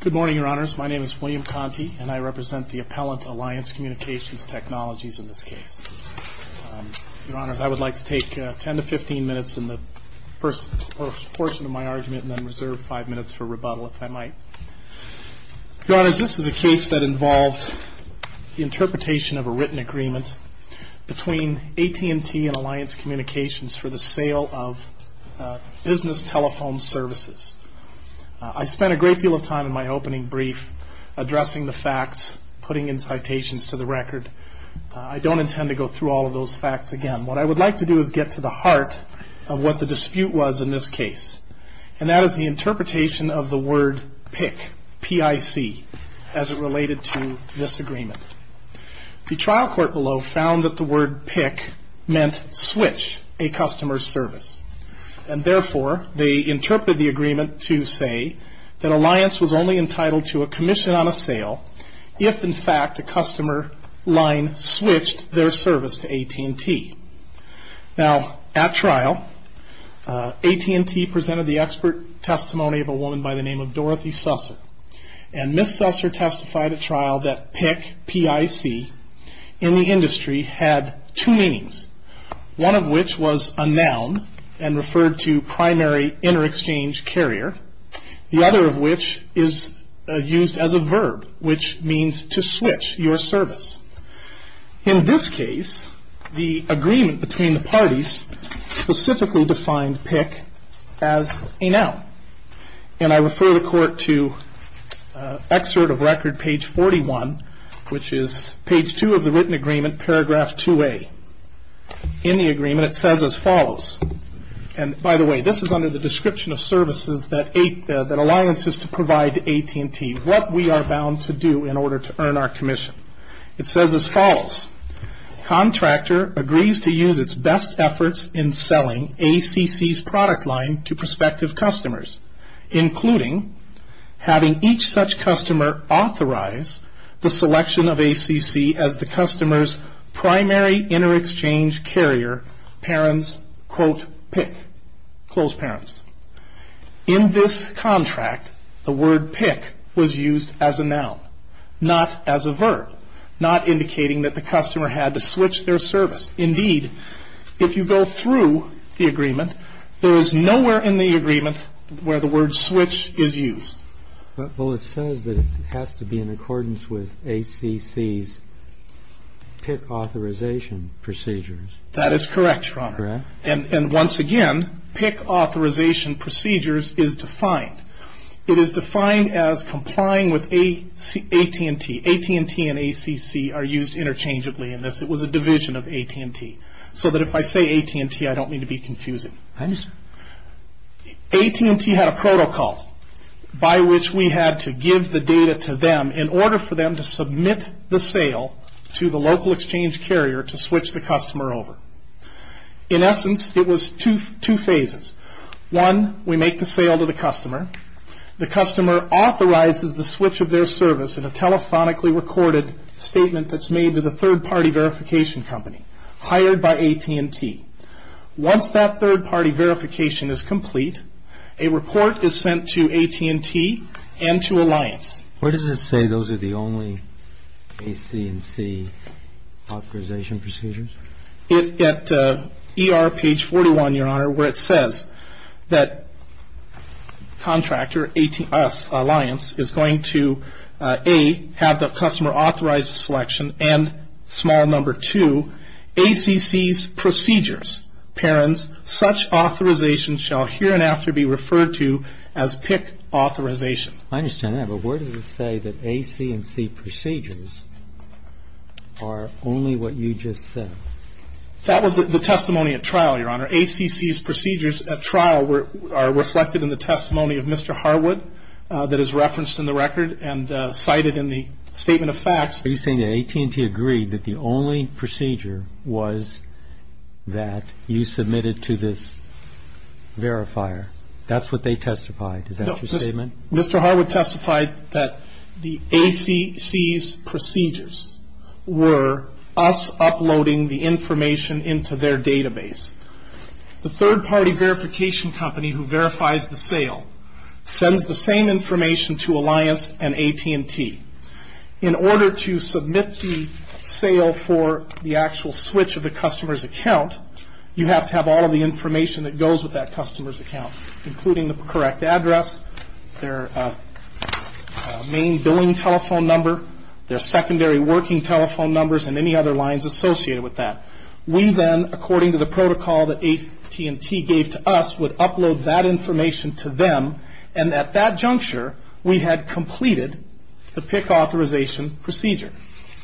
Good morning, Your Honors. My name is William Conte and I represent the Appellant Alliance Communications Technologies in this case. Your Honors, I would like to take 10 to 15 minutes in the first portion of my argument and then reserve 5 minutes for rebuttal, if I might. Your Honors, this is a case that involved the interpretation of a written agreement between AT&T and Alliance Communications for the sale of business telephone services. I spent a great deal of time in my opening brief addressing the facts, putting in citations to the record. I don't intend to go through all of those facts again. What I would like to do is get to the heart of what the dispute was in this case, and that is the interpretation of the word PIC, P-I-C, as it related to this agreement. The trial court below found that the word PIC meant switch a customer's service. Therefore, they interpreted the agreement to say that Alliance was only entitled to a commission on a sale if, in fact, a customer line switched their service to AT&T. Now, at trial, AT&T presented the expert testimony of a woman by the name of Dorothy Susser, and Ms. Susser testified at trial that PIC, P-I-C, in the industry had two meanings. One of which was a noun and referred to primary inter-exchange carrier. The other of which is used as a verb, which means to switch your service. In this case, the agreement between the parties specifically defined PIC as a noun. And I refer the court to excerpt of record page 41, which is page 2 of the written agreement, paragraph 2A. In the agreement, it says as follows, and by the way, this is under the description of services that Alliance is to provide to AT&T, what we are bound to do in order to earn our commission. It says as follows, contractor agrees to use its best efforts in selling ACC's product line to prospective customers, including having each such customer authorize the selection of ACC as the customer's primary inter-exchange carrier parent's, quote, PIC, close parents. In this contract, the word PIC was used as a noun, not as a verb, not indicating that the customer had to switch their service. Indeed, if you go through the agreement, there is nowhere in the agreement where the word switch is used. Well, it says that it has to be in accordance with ACC's PIC authorization procedures. That is correct, Your Honor. Correct. And once again, PIC authorization procedures is defined. It is defined as complying with AT&T. AT&T and ACC are used interchangeably in this. It was a division of AT&T, so that if I say AT&T, I don't mean to be confusing. I understand. AT&T had a protocol by which we had to give the data to them in order for them to submit the sale to the local exchange carrier to switch the customer over. In essence, it was two phases. One, we make the sale to the customer. The customer authorizes the switch of their service in a telephonically recorded statement that's made to the third-party verification company hired by AT&T. Once that third-party verification is complete, a report is sent to AT&T and to Alliance. Where does it say those are the only ACC authorization procedures? At ER page 41, Your Honor, where it says that contractor, us, Alliance, is going to A, have the customer authorized selection, and small number two, ACC's procedures. Parents, such authorization shall here and after be referred to as PIC authorization. I understand that, but where does it say that ACC procedures are only what you just said? That was the testimony at trial, Your Honor. ACC's procedures at trial are reflected in the testimony of Mr. Harwood that is referenced in the record and cited in the statement of facts. Are you saying that AT&T agreed that the only procedure was that you submitted to this verifier? That's what they testified. Is that your statement? Mr. Harwood testified that the ACC's procedures were us uploading the information into their database. The third-party verification company who verifies the sale sends the same information to Alliance and AT&T. In order to submit the sale for the actual switch of the customer's account, you have to have all of the information that goes with that customer's account, including the correct address, their main billing telephone number, their secondary working telephone numbers, and any other lines associated with that. We then, according to the protocol that AT&T gave to us, would upload that information to them, and at that juncture, we had completed the PIC authorization procedure.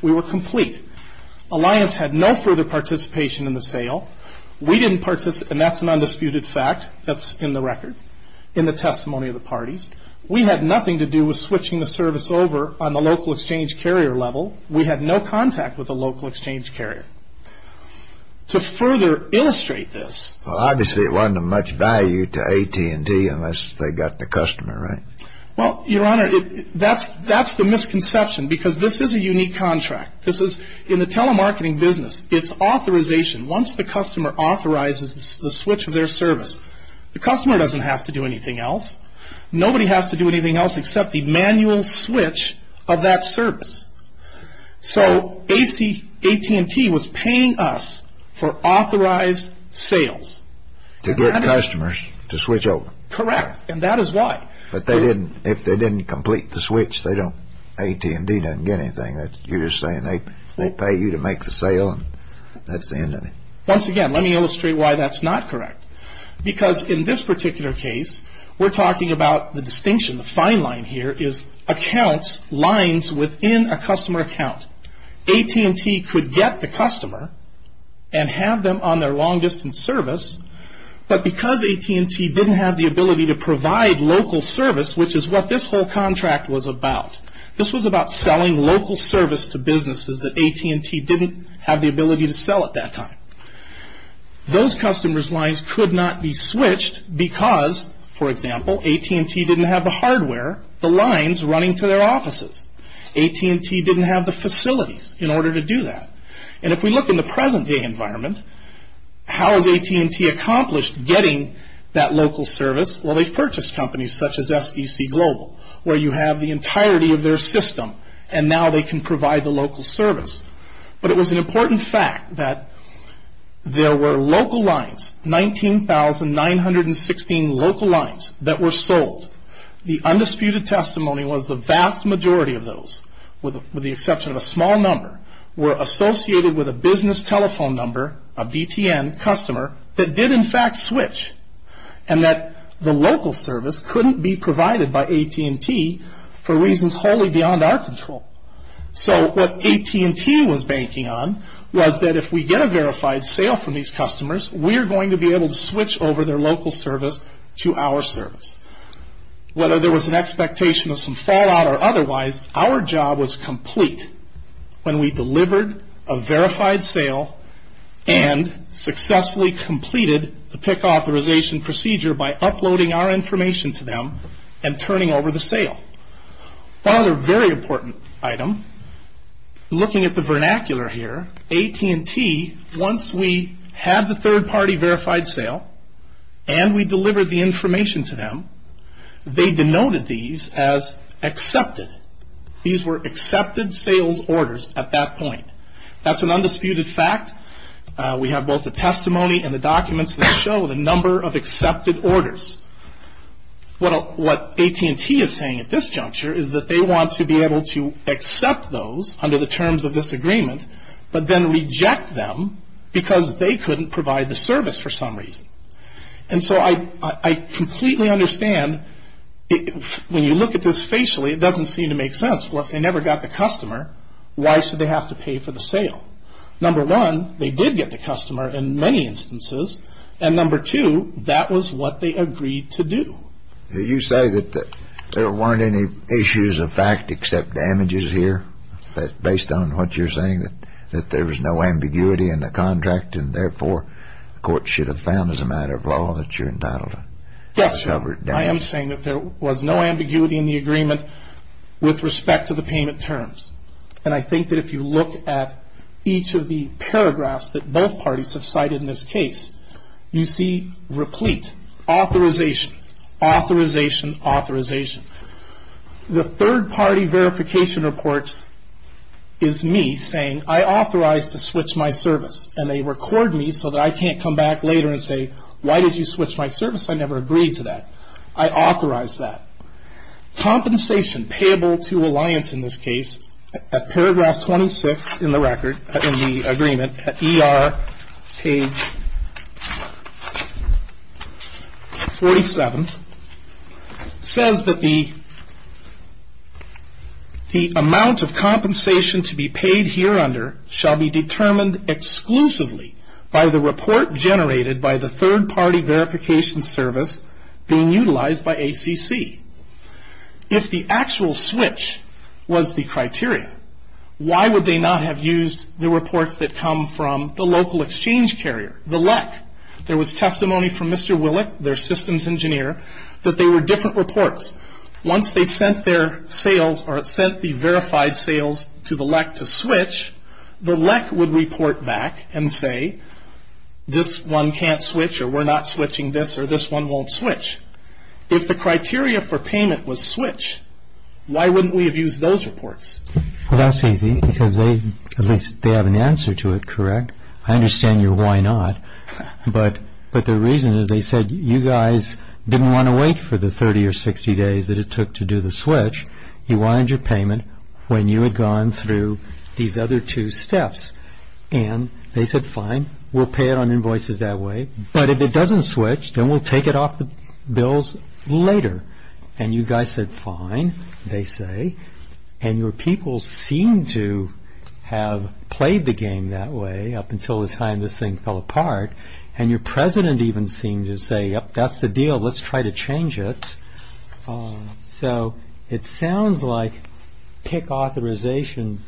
We were complete. Alliance had no further participation in the sale. We didn't participate, and that's an undisputed fact that's in the record, in the testimony of the parties. We had nothing to do with switching the service over on the local exchange carrier level. We had no contact with the local exchange carrier. To further illustrate this. Well, obviously, it wasn't of much value to AT&T unless they got the customer, right? Well, Your Honor, that's the misconception because this is a unique contract. This is, in the telemarketing business, it's authorization. Once the customer authorizes the switch of their service, the customer doesn't have to do anything else. Nobody has to do anything else except the manual switch of that service. So AT&T was paying us for authorized sales. To get customers to switch over. Correct, and that is why. But if they didn't complete the switch, AT&T doesn't get anything. You're just saying they will pay you to make the sale, and that's the end of it. Once again, let me illustrate why that's not correct. Because in this particular case, we're talking about the distinction. The fine line here is accounts, lines within a customer account. AT&T could get the customer and have them on their long-distance service, but because AT&T didn't have the ability to provide local service, which is what this whole contract was about. This was about selling local service to businesses that AT&T didn't have the ability to sell at that time. Those customers' lines could not be switched because, for example, AT&T didn't have the hardware, the lines running to their offices. AT&T didn't have the facilities in order to do that. And if we look in the present-day environment, how has AT&T accomplished getting that local service? Well, they've purchased companies such as SEC Global, where you have the entirety of their system, and now they can provide the local service. But it was an important fact that there were local lines, 19,916 local lines that were sold. The undisputed testimony was the vast majority of those, with the exception of a small number, were associated with a business telephone number, a BTN customer, that did in fact switch, and that the local service couldn't be provided by AT&T for reasons wholly beyond our control. So what AT&T was banking on was that if we get a verified sale from these customers, we're going to be able to switch over their local service to our service. Whether there was an expectation of some fallout or otherwise, our job was complete when we delivered a verified sale and successfully completed the PIC authorization procedure by uploading our information to them and turning over the sale. One other very important item, looking at the vernacular here, AT&T, once we had the third-party verified sale and we delivered the information to them, they denoted these as accepted. These were accepted sales orders at that point. That's an undisputed fact. We have both the testimony and the documents that show the number of accepted orders. What AT&T is saying at this juncture is that they want to be able to accept those under the terms of this agreement, but then reject them because they couldn't provide the service for some reason. And so I completely understand when you look at this facially, it doesn't seem to make sense. Well, if they never got the customer, why should they have to pay for the sale? Number one, they did get the customer in many instances. And number two, that was what they agreed to do. You say that there weren't any issues of fact except damages here, based on what you're saying, that there was no ambiguity in the contract and therefore the court should have found as a matter of law that you're entitled to cover damages. Yes, sir. I am saying that there was no ambiguity in the agreement with respect to the payment terms. And I think that if you look at each of the paragraphs that both parties have cited in this case, you see replete, authorization, authorization, authorization. The third-party verification report is me saying, I authorize to switch my service, and they record me so that I can't come back later and say, why did you switch my service? I never agreed to that. I authorize that. Compensation payable to Alliance in this case, at paragraph 26 in the agreement, at ER page 47, says that the amount of compensation to be paid here under shall be determined exclusively by the report generated by the third-party verification service being utilized by ACC. If the actual switch was the criteria, why would they not have used the reports that come from the local exchange carrier, the LEC? There was testimony from Mr. Willick, their systems engineer, that they were different reports. Once they sent their sales or sent the verified sales to the LEC to switch, the LEC would report back and say, this one can't switch or we're not switching this or this one won't switch. If the criteria for payment was switch, why wouldn't we have used those reports? Well, that's easy, because at least they have an answer to it, correct? I understand your why not, but the reason is they said, you guys didn't want to wait for the 30 or 60 days that it took to do the switch. You wanted your payment when you had gone through these other two steps. And they said, fine, we'll pay it on invoices that way, but if it doesn't switch, then we'll take it off the bills later. And you guys said, fine, they say. And your people seem to have played the game that way up until the time this thing fell apart. And your president even seemed to say, yep, that's the deal, let's try to change it. So it sounds like PIC authorization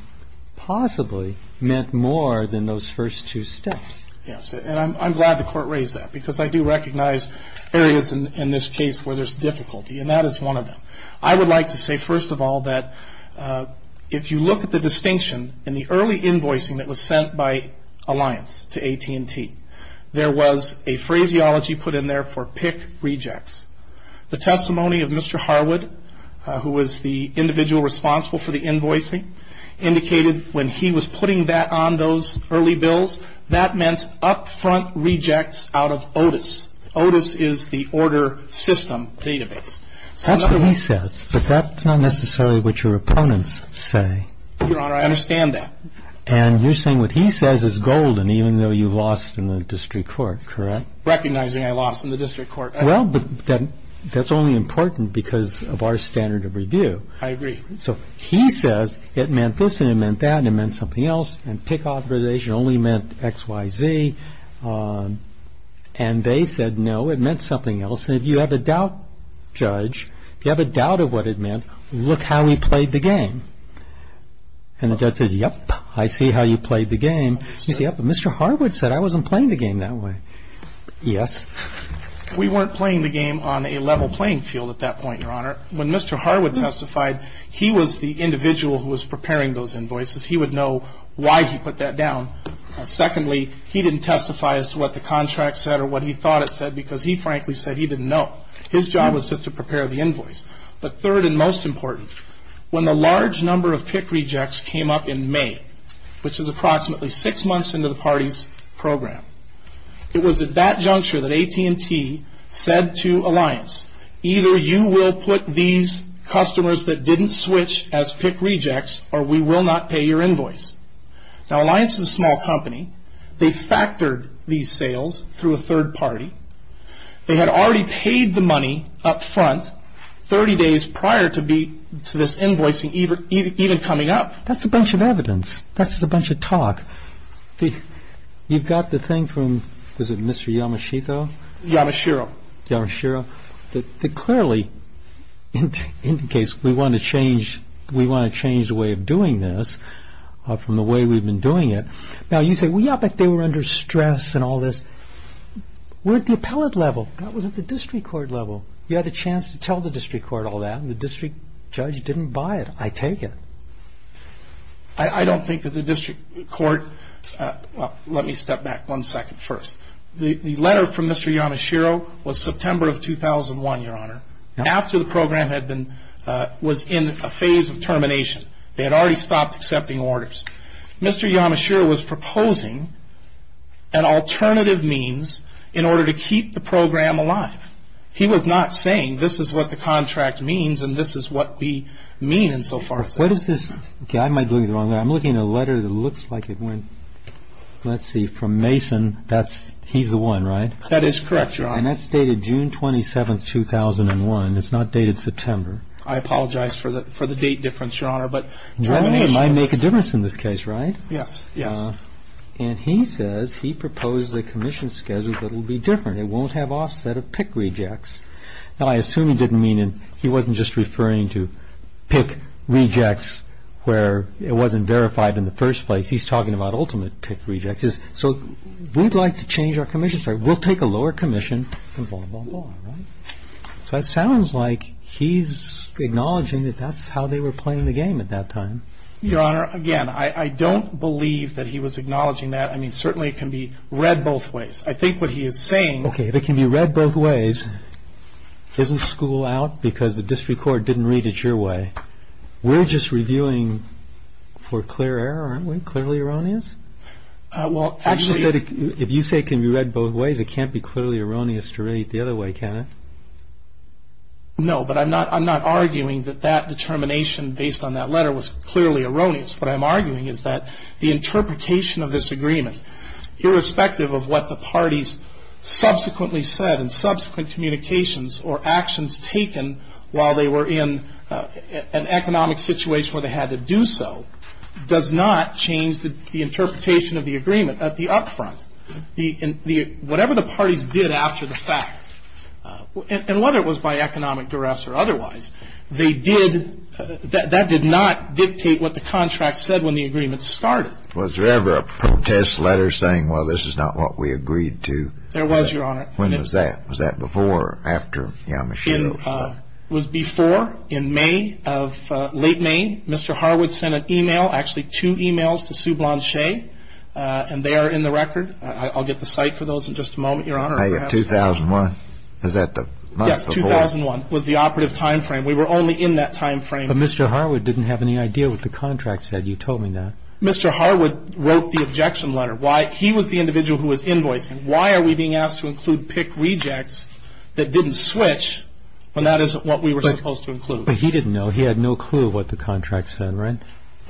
possibly meant more than those first two steps. Yes, and I'm glad the court raised that, because I do recognize areas in this case where there's difficulty, and that is one of them. I would like to say, first of all, that if you look at the distinction in the early invoicing that was sent by Alliance to AT&T, there was a phraseology put in there for PIC rejects. The testimony of Mr. Harwood, who was the individual responsible for the invoicing, indicated when he was putting that on those early bills, that meant upfront rejects out of OTIS. OTIS is the order system database. That's what he says, but that's not necessarily what your opponents say. Your Honor, I understand that. And you're saying what he says is golden, even though you lost in the district court, correct? Recognizing I lost in the district court. Well, but that's only important because of our standard of review. I agree. So he says it meant this and it meant that and it meant something else, and PIC authorization only meant X, Y, Z. And they said, no, it meant something else. And if you have a doubt, Judge, if you have a doubt of what it meant, look how he played the game. And the judge says, yep, I see how you played the game. You say, yep, but Mr. Harwood said I wasn't playing the game that way. Yes? We weren't playing the game on a level playing field at that point, Your Honor. When Mr. Harwood testified, he was the individual who was preparing those invoices. He would know why he put that down. Secondly, he didn't testify as to what the contract said or what he thought it said because he frankly said he didn't know. His job was just to prepare the invoice. But third and most important, when the large number of PIC rejects came up in May, which is approximately six months into the party's program, it was at that juncture that AT&T said to Alliance, either you will put these customers that didn't switch as PIC rejects or we will not pay your invoice. Now, Alliance is a small company. They factored these sales through a third party. They had already paid the money up front 30 days prior to this invoicing even coming up. That's a bunch of evidence. That's a bunch of talk. You've got the thing from, was it Mr. Yamashita? Yamashiro. Yamashiro. It clearly indicates we want to change the way of doing this from the way we've been doing it. Now, you say, well, yeah, but they were under stress and all this. We're at the appellate level. That was at the district court level. You had a chance to tell the district court all that, and the district judge didn't buy it. I take it. I don't think that the district court – let me step back one second first. The letter from Mr. Yamashiro was September of 2001, Your Honor, after the program was in a phase of termination. They had already stopped accepting orders. Mr. Yamashiro was proposing an alternative means in order to keep the program alive. He was not saying this is what the contract means and this is what we mean insofar as that. What is this? Okay, I might be looking at it the wrong way. I'm looking at a letter that looks like it went, let's see, from Mason. That's – he's the one, right? That is correct, Your Honor. And that's dated June 27, 2001. It's not dated September. I apologize for the date difference, Your Honor, but termination is. Well, it might make a difference in this case, right? Yes, yes. And he says he proposed a commission schedule that will be different. It won't have offset of PIC rejects. Now, I assume he didn't mean – he wasn't just referring to PIC rejects where it wasn't verified in the first place. He's talking about ultimate PIC rejects. So we'd like to change our commission schedule. We'll take a lower commission and blah, blah, blah, right? So it sounds like he's acknowledging that that's how they were playing the game at that time. Your Honor, again, I don't believe that he was acknowledging that. I mean, certainly it can be read both ways. I think what he is saying – Okay, if it can be read both ways, isn't school out because the district court didn't read it your way? We're just reviewing for clear error, aren't we? Clearly erroneous? Well, actually – If you say it can be read both ways, it can't be clearly erroneous to read it the other way, can it? No, but I'm not arguing that that determination based on that letter was clearly erroneous. What I'm arguing is that the interpretation of this agreement, irrespective of what the parties subsequently said and subsequent communications or actions taken while they were in an economic situation where they had to do so, does not change the interpretation of the agreement at the up front. Whatever the parties did after the fact, and whether it was by economic duress or otherwise, they did – that did not dictate what the contract said when the agreement started. Was there ever a protest letter saying, well, this is not what we agreed to? There was, Your Honor. When was that? Was that before or after Yamashita? It was before in May of – late May. Mr. Harwood sent an e-mail, actually two e-mails, to Sue Blanchet. And they are in the record. I'll get the site for those in just a moment, Your Honor. 2001. Is that the month before? Yes, 2001 was the operative time frame. We were only in that time frame. But Mr. Harwood didn't have any idea what the contract said. You told me that. Mr. Harwood wrote the objection letter. He was the individual who was invoicing. Why are we being asked to include pick rejects that didn't switch when that isn't what we were supposed to include? But he didn't know. He had no clue what the contract said, right?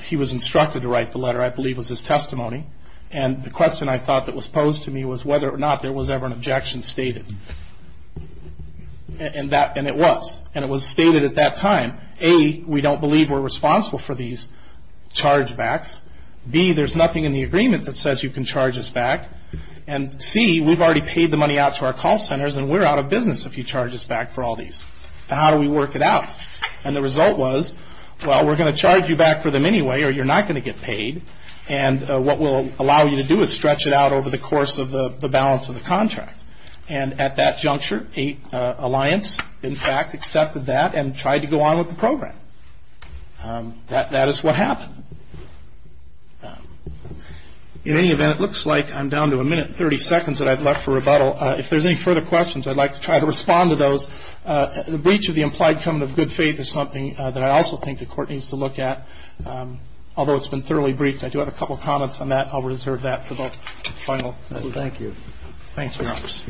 He was instructed to write the letter. I believe it was his testimony. And the question I thought that was posed to me was whether or not there was ever an objection stated. And it was. And it was stated at that time, A, we don't believe we're responsible for these chargebacks. B, there's nothing in the agreement that says you can charge us back. And C, we've already paid the money out to our call centers, and we're out of business if you charge us back for all these. How do we work it out? And the result was, well, we're going to charge you back for them anyway, or you're not going to get paid. And what we'll allow you to do is stretch it out over the course of the balance of the contract. And at that juncture, Alliance, in fact, accepted that and tried to go on with the program. That is what happened. In any event, it looks like I'm down to a minute and 30 seconds that I've left for rebuttal. If there's any further questions, I'd like to try to respond to those. The breach of the implied covenant of good faith is something that I also think the Court needs to look at. Although it's been thoroughly briefed, I do have a couple of comments on that. I'll reserve that for the final. Thank you. Thank you, Your Honor. Please.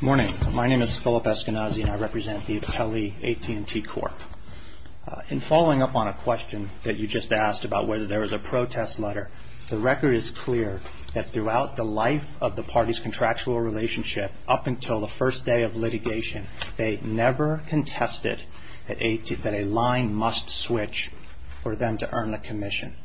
Good morning. My name is Philip Eskenazi, and I represent the Appellee AT&T Court. In following up on a question that you just asked about whether there was a protest letter, the record is clear that throughout the life of the party's contractual relationship up until the first day of litigation, they never contested that a line must switch for them to earn the commission.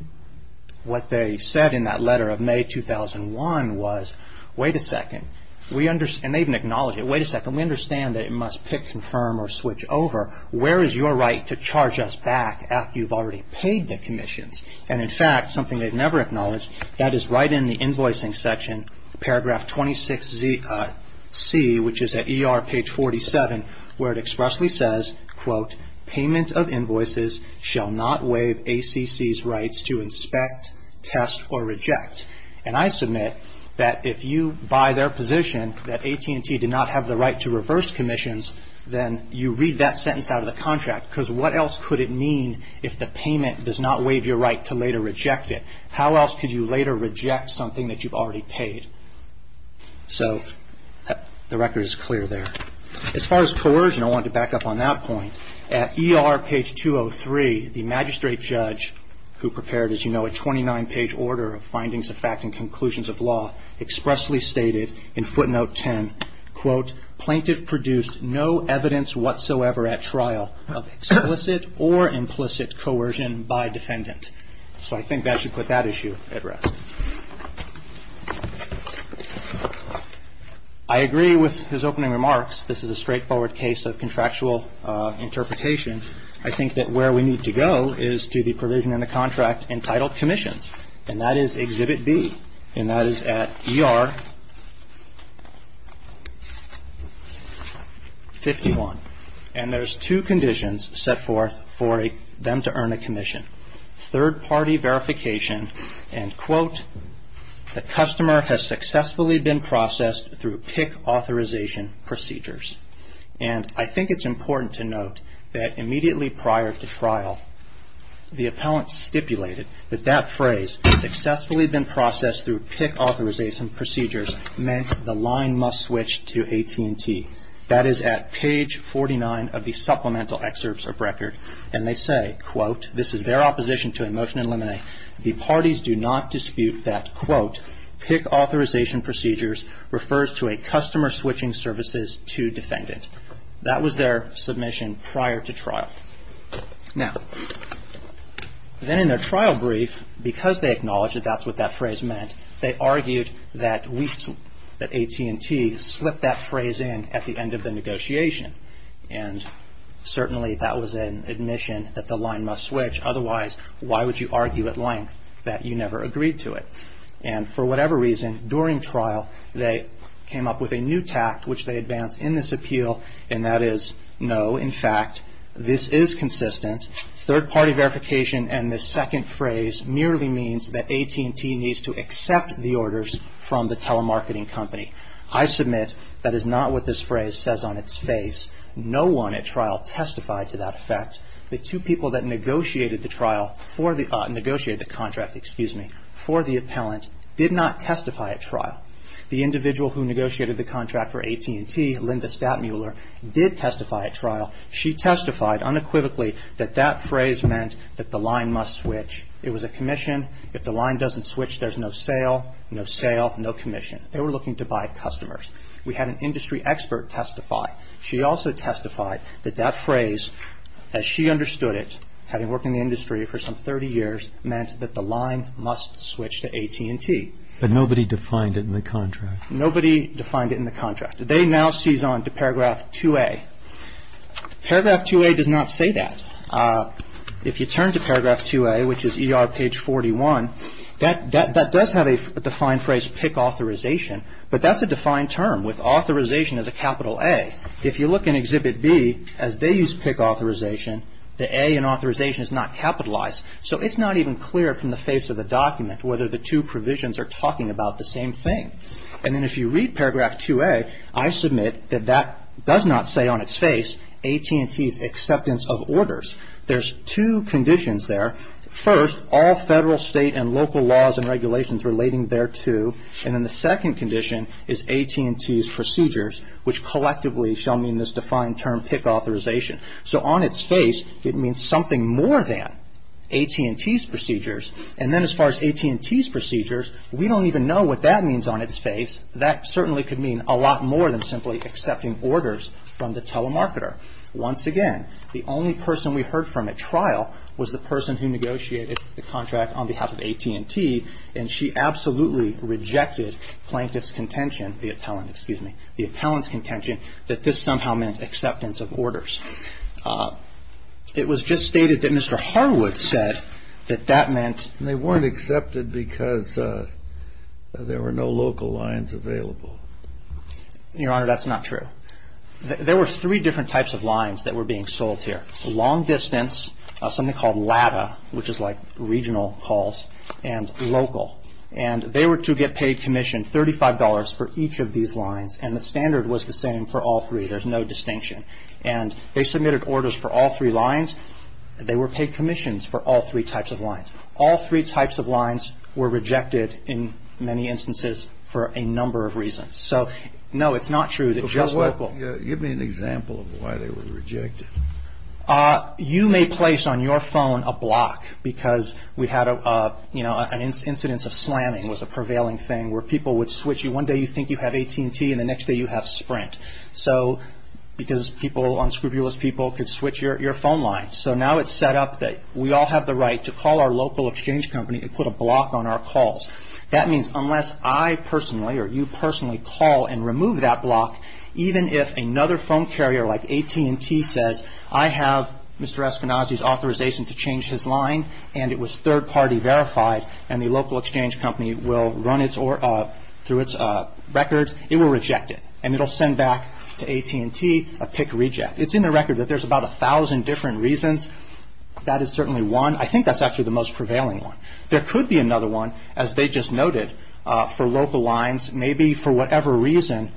What they said in that letter of May 2001 was, wait a second. And they didn't acknowledge it. Wait a second. We understand that it must pick, confirm, or switch over. Where is your right to charge us back after you've already paid the commissions? And, in fact, something they've never acknowledged, that is right in the invoicing section, paragraph 26C, which is at ER page 47, where it expressly says, quote, payment of invoices shall not waive ACC's rights to inspect, test, or reject. And I submit that if you buy their position that AT&T did not have the right to reverse commissions, then you read that sentence out of the contract. Because what else could it mean if the payment does not waive your right to later reject it? How else could you later reject something that you've already paid? So the record is clear there. As far as coercion, I want to back up on that point. At ER page 203, the magistrate judge, who prepared, as you know, a 29-page order of findings of fact and conclusions of law, expressly stated in footnote 10, quote, plaintiff produced no evidence whatsoever at trial of explicit or implicit coercion by defendant. So I think that should put that issue at rest. I agree with his opening remarks. This is a straightforward case of contractual interpretation. I think that where we need to go is to the provision in the contract entitled commissions, and that is Exhibit B. And that is at ER 51. And there's two conditions set forth for them to earn a commission. Third-party verification and, quote, the customer has successfully been processed through PIC authorization procedures. And I think it's important to note that immediately prior to trial, the appellant stipulated that that phrase, successfully been processed through PIC authorization procedures, meant the line must switch to AT&T. That is at page 49 of the supplemental excerpts of record. And they say, quote, this is their opposition to a motion in limine. The parties do not dispute that, quote, PIC authorization procedures refers to a customer switching services to defendant. That was their submission prior to trial. Now, then in their trial brief, because they acknowledge that that's what that phrase meant, they argued that AT&T slipped that phrase in at the end of the negotiation. And certainly that was an admission that the line must switch. Otherwise, why would you argue at length that you never agreed to it? And for whatever reason, during trial, they came up with a new tact, which they advance in this appeal, and that is, no, in fact, this is consistent. Third-party verification and this second phrase merely means that AT&T needs to accept the orders from the telemarketing company. I submit that is not what this phrase says on its face. No one at trial testified to that effect. The two people that negotiated the contract for the appellant did not testify at trial. The individual who negotiated the contract for AT&T, Linda Statmuller, did testify at trial. She testified unequivocally that that phrase meant that the line must switch. It was a commission. If the line doesn't switch, there's no sale, no sale, no commission. They were looking to buy customers. We had an industry expert testify. She also testified that that phrase, as she understood it, having worked in the industry for some 30 years, meant that the line must switch to AT&T. But nobody defined it in the contract. Nobody defined it in the contract. They now seize on to paragraph 2A. Paragraph 2A does not say that. If you turn to paragraph 2A, which is ER page 41, that does have a defined phrase, pick authorization. But that's a defined term with authorization as a capital A. If you look in Exhibit B, as they use pick authorization, the A in authorization is not capitalized. So it's not even clear from the face of the document whether the two provisions are talking about the same thing. And then if you read paragraph 2A, I submit that that does not say on its face AT&T's acceptance of orders. There's two conditions there. First, all federal, state, and local laws and regulations relating thereto. And then the second condition is AT&T's procedures, which collectively shall mean this defined term, pick authorization. So on its face, it means something more than AT&T's procedures. And then as far as AT&T's procedures, we don't even know what that means on its face. That certainly could mean a lot more than simply accepting orders from the telemarketer. Once again, the only person we heard from at trial was the person who negotiated the contract on behalf of AT&T, and she absolutely rejected plaintiff's contention, the appellant, excuse me, the appellant's contention that this somehow meant acceptance of orders. It was just stated that Mr. Harwood said that that meant they weren't accepted because there were no local lines available. Your Honor, that's not true. There were three different types of lines that were being sold here. Long distance, something called LATA, which is like regional calls, and local. And they were to get paid commission, $35 for each of these lines. And the standard was the same for all three. There's no distinction. And they submitted orders for all three lines. They were paid commissions for all three types of lines. All three types of lines were rejected in many instances for a number of reasons. So, no, it's not true that just local. Give me an example of why they were rejected. You may place on your phone a block because we had, you know, an incidence of slamming was a prevailing thing where people would switch. One day you think you have AT&T, and the next day you have Sprint. So because people, unscrupulous people, could switch your phone line. So now it's set up that we all have the right to call our local exchange company and put a block on our calls. That means unless I personally or you personally call and remove that block, even if another phone carrier like AT&T says, I have Mr. Eskenazi's authorization to change his line and it was third-party verified and the local exchange company will run it through its records, it will reject it. And it will send back to AT&T a PIC reject. It's in the record that there's about a thousand different reasons. That is certainly one. I think that's actually the most prevailing one. There could be another one, as they just noted, for local lines. Maybe for whatever reason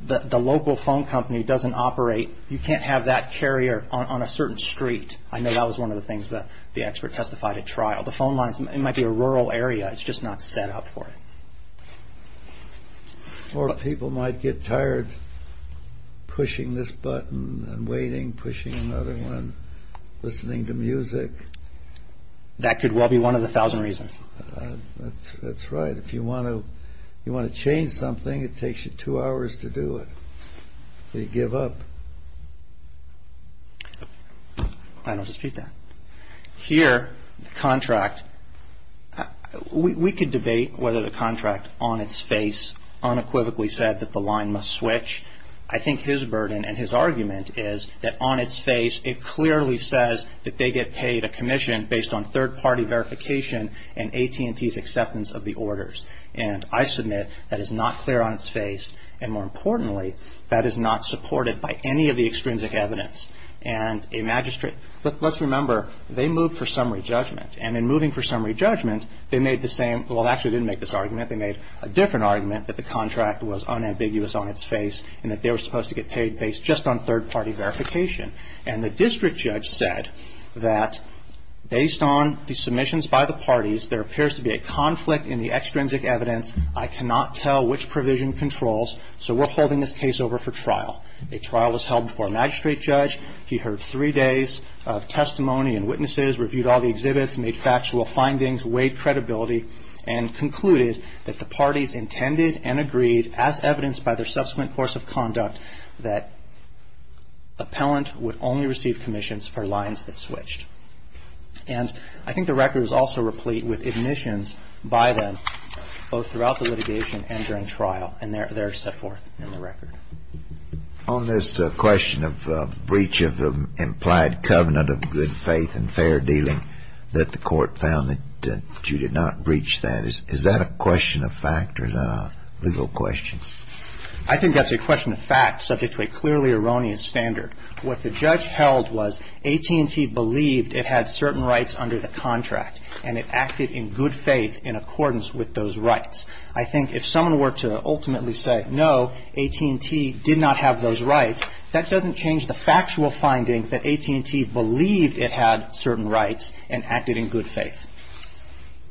the local phone company doesn't operate. You can't have that carrier on a certain street. I know that was one of the things that the expert testified at trial. The phone lines, it might be a rural area. It's just not set up for it. Or people might get tired pushing this button and waiting, pushing another one, listening to music. That could well be one of the thousand reasons. That's right. If you want to change something, it takes you two hours to do it. So you give up. I don't dispute that. Here, the contract. We could debate whether the contract on its face unequivocally said that the line must switch. I think his burden and his argument is that on its face, it clearly says that they get paid a commission based on third-party verification and AT&T's acceptance of the orders. And I submit that is not clear on its face. And more importantly, that is not supported by any of the extrinsic evidence. And a magistrate – let's remember, they moved for summary judgment. And in moving for summary judgment, they made the same – well, actually, they didn't make this argument. They made a different argument that the contract was unambiguous on its face and that they were supposed to get paid based just on third-party verification. And the district judge said that based on the submissions by the parties, there appears to be a conflict in the extrinsic evidence. I cannot tell which provision controls, so we're holding this case over for trial. A trial was held before a magistrate judge. He heard three days of testimony and witnesses, reviewed all the exhibits, made factual findings, weighed credibility, and concluded that the parties intended and agreed, as evidenced by their subsequent course of conduct, that appellant would only receive commissions for lines that switched. And I think the record is also replete with admissions by them, both throughout the litigation and during trial. And they're set forth in the record. On this question of breach of the implied covenant of good faith and fair dealing that the court found that you did not breach that, is that a question of fact or is that a legal question? I think that's a question of fact subject to a clearly erroneous standard. What the judge held was AT&T believed it had certain rights under the contract and it acted in good faith in accordance with those rights. I think if someone were to ultimately say, no, AT&T did not have those rights, that doesn't change the factual finding that AT&T believed it had certain rights and acted in good faith.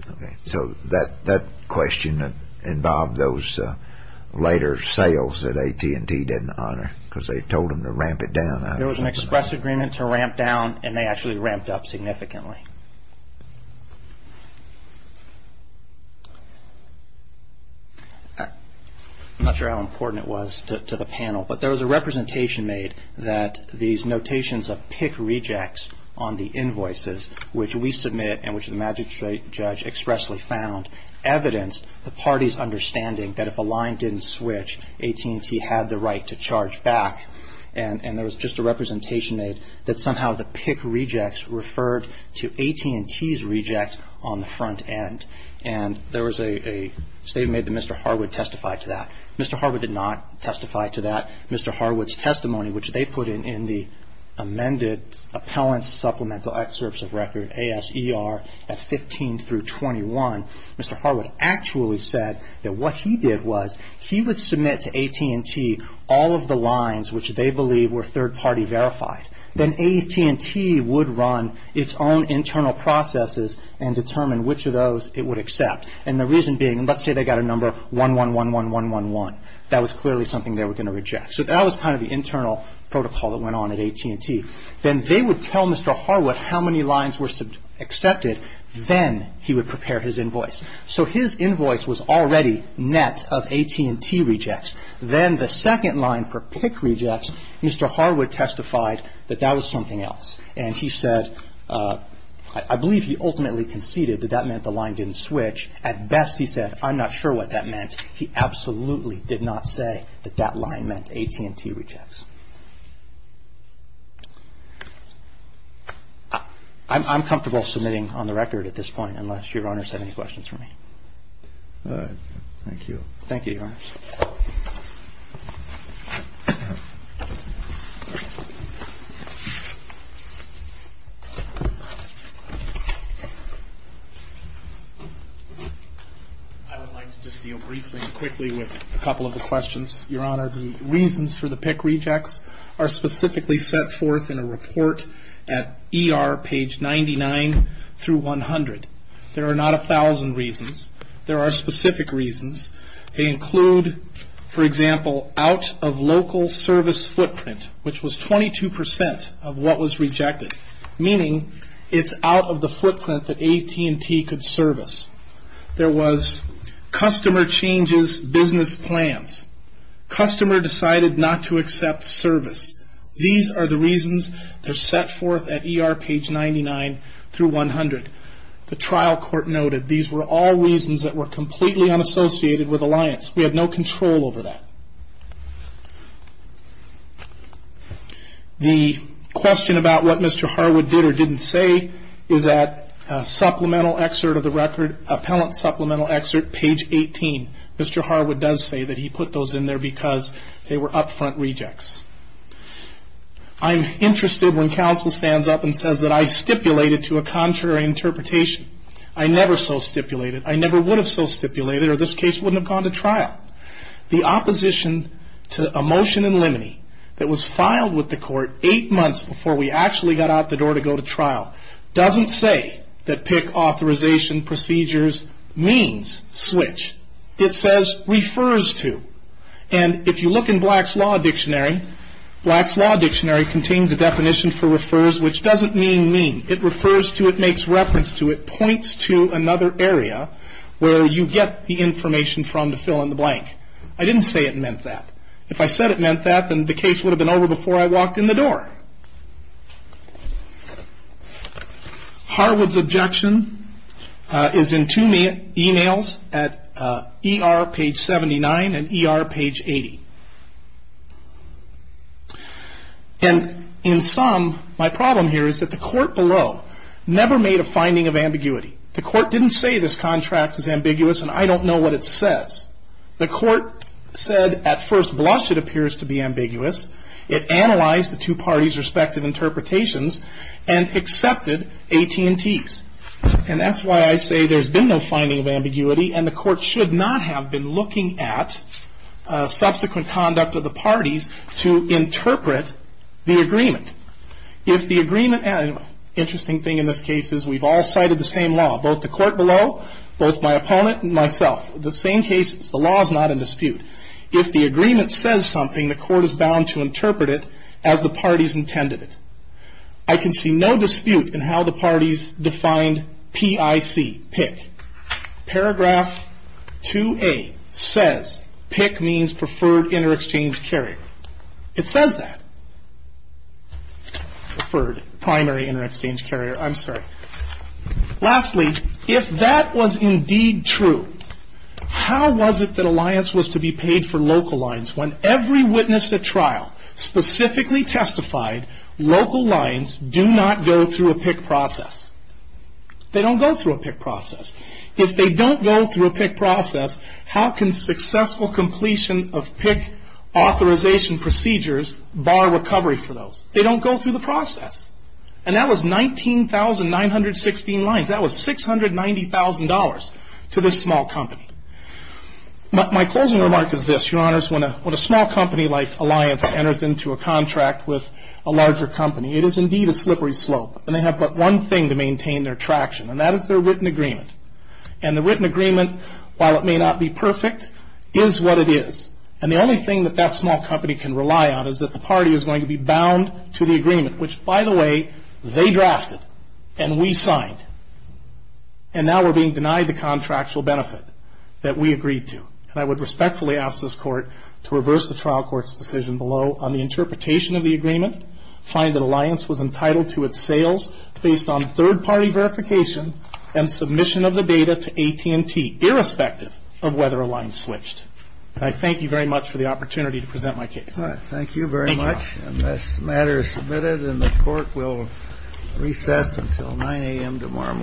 Okay. So that question involved those later sales that AT&T didn't honor because they told them to ramp it down? There was an express agreement to ramp down and they actually ramped up significantly. I'm not sure how important it was to the panel, but there was a representation made that these notations of pick rejects on the invoices, which we submit and which the magistrate judge expressly found, evidenced the party's understanding that if a line didn't switch, AT&T had the right to charge back. And there was just a representation made that somehow the pick rejects referred to AT&T's reject on the front end. And there was a statement made that Mr. Harwood testified to that. Mr. Harwood did not testify to that. Mr. Harwood's testimony, which they put in in the amended appellant supplemental excerpts of record, ASER, at 15 through 21, Mr. Harwood actually said that what he did was he would submit to AT&T all of the lines which they believe were third-party verified. Then AT&T would run its own internal processes and determine which of those it would accept. And the reason being, let's say they got a number 1111111. That was clearly something they were going to reject. So that was kind of the internal protocol that went on at AT&T. Then they would tell Mr. Harwood how many lines were accepted. Then he would prepare his invoice. So his invoice was already net of AT&T rejects. Then the second line for pick rejects, Mr. Harwood testified that that was something else. And he said, I believe he ultimately conceded that that meant the line didn't switch. At best, he said, I'm not sure what that meant. He absolutely did not say that that line meant AT&T rejects. I'm comfortable submitting on the record at this point, unless Your Honors have any questions for me. All right. Thank you. Thank you, Your Honors. I would like to just deal briefly and quickly with a couple of the questions. Your Honor, the reasons for the pick rejects are specifically set forth in a report at ER page 99 through 100. There are not 1,000 reasons. There are specific reasons. They include, for example, out of local service footprint, which was 22% of what was rejected, meaning it's out of the footprint that AT&T could service. There was customer changes business plans. Customer decided not to accept service. These are the reasons that are set forth at ER page 99 through 100. The trial court noted these were all reasons that were completely unassociated with Alliance. We have no control over that. The question about what Mr. Harwood did or didn't say is at supplemental excerpt of the record, appellant supplemental excerpt, page 18. Mr. Harwood does say that he put those in there because they were upfront rejects. I'm interested when counsel stands up and says that I stipulated to a contrary interpretation. I never so stipulated. I never would have so stipulated, or this case wouldn't have gone to trial. The opposition to a motion in limine that was filed with the court eight months before we actually got out the door to go to trial doesn't say that PIC authorization procedures means switch. It says refers to. And if you look in Black's Law Dictionary, Black's Law Dictionary contains a definition for refers, which doesn't mean mean. It refers to, it makes reference to, it points to another area where you get the information from to fill in the blank. I didn't say it meant that. If I said it meant that, then the case would have been over before I walked in the door. Harwood's objection is in two emails at ER page 79 and ER page 80. And in sum, my problem here is that the court below never made a finding of ambiguity. The court didn't say this contract is ambiguous, and I don't know what it says. The court said at first blush it appears to be ambiguous. It analyzed the two parties' respective interpretations and accepted AT&T's. And that's why I say there's been no finding of ambiguity, and the court should not have been looking at subsequent conduct of the parties to interpret the agreement. If the agreement, interesting thing in this case is we've all cited the same law, both the court below, both my opponent and myself. The same case, the law is not in dispute. If the agreement says something, the court is bound to interpret it as the parties intended it. I can see no dispute in how the parties defined PIC, PIC. Paragraph 2A says PIC means preferred inter-exchange carrier. It says that, preferred primary inter-exchange carrier. I'm sorry. Lastly, if that was indeed true, how was it that alliance was to be paid for local lines when every witness at trial specifically testified local lines do not go through a PIC process? They don't go through a PIC process. If they don't go through a PIC process, how can successful completion of PIC authorization procedures bar recovery for those? They don't go through the process. And that was 19,916 lines. That was $690,000 to this small company. My closing remark is this, Your Honors. When a small company like alliance enters into a contract with a larger company, it is indeed a slippery slope, and they have but one thing to maintain their traction, and that is their written agreement. And the written agreement, while it may not be perfect, is what it is. And the only thing that that small company can rely on is that the party is going to be bound to the agreement, which, by the way, they drafted and we signed. And now we're being denied the contractual benefit that we agreed to. And I would respectfully ask this Court to reverse the trial court's decision below on the interpretation of the agreement, find that alliance was entitled to its sales based on third-party verification and submission of the data to AT&T, irrespective of whether alliance switched. And I thank you very much for the opportunity to present my case. Thank you very much. And this matter is submitted, and the Court will recess until 9 a.m. tomorrow morning.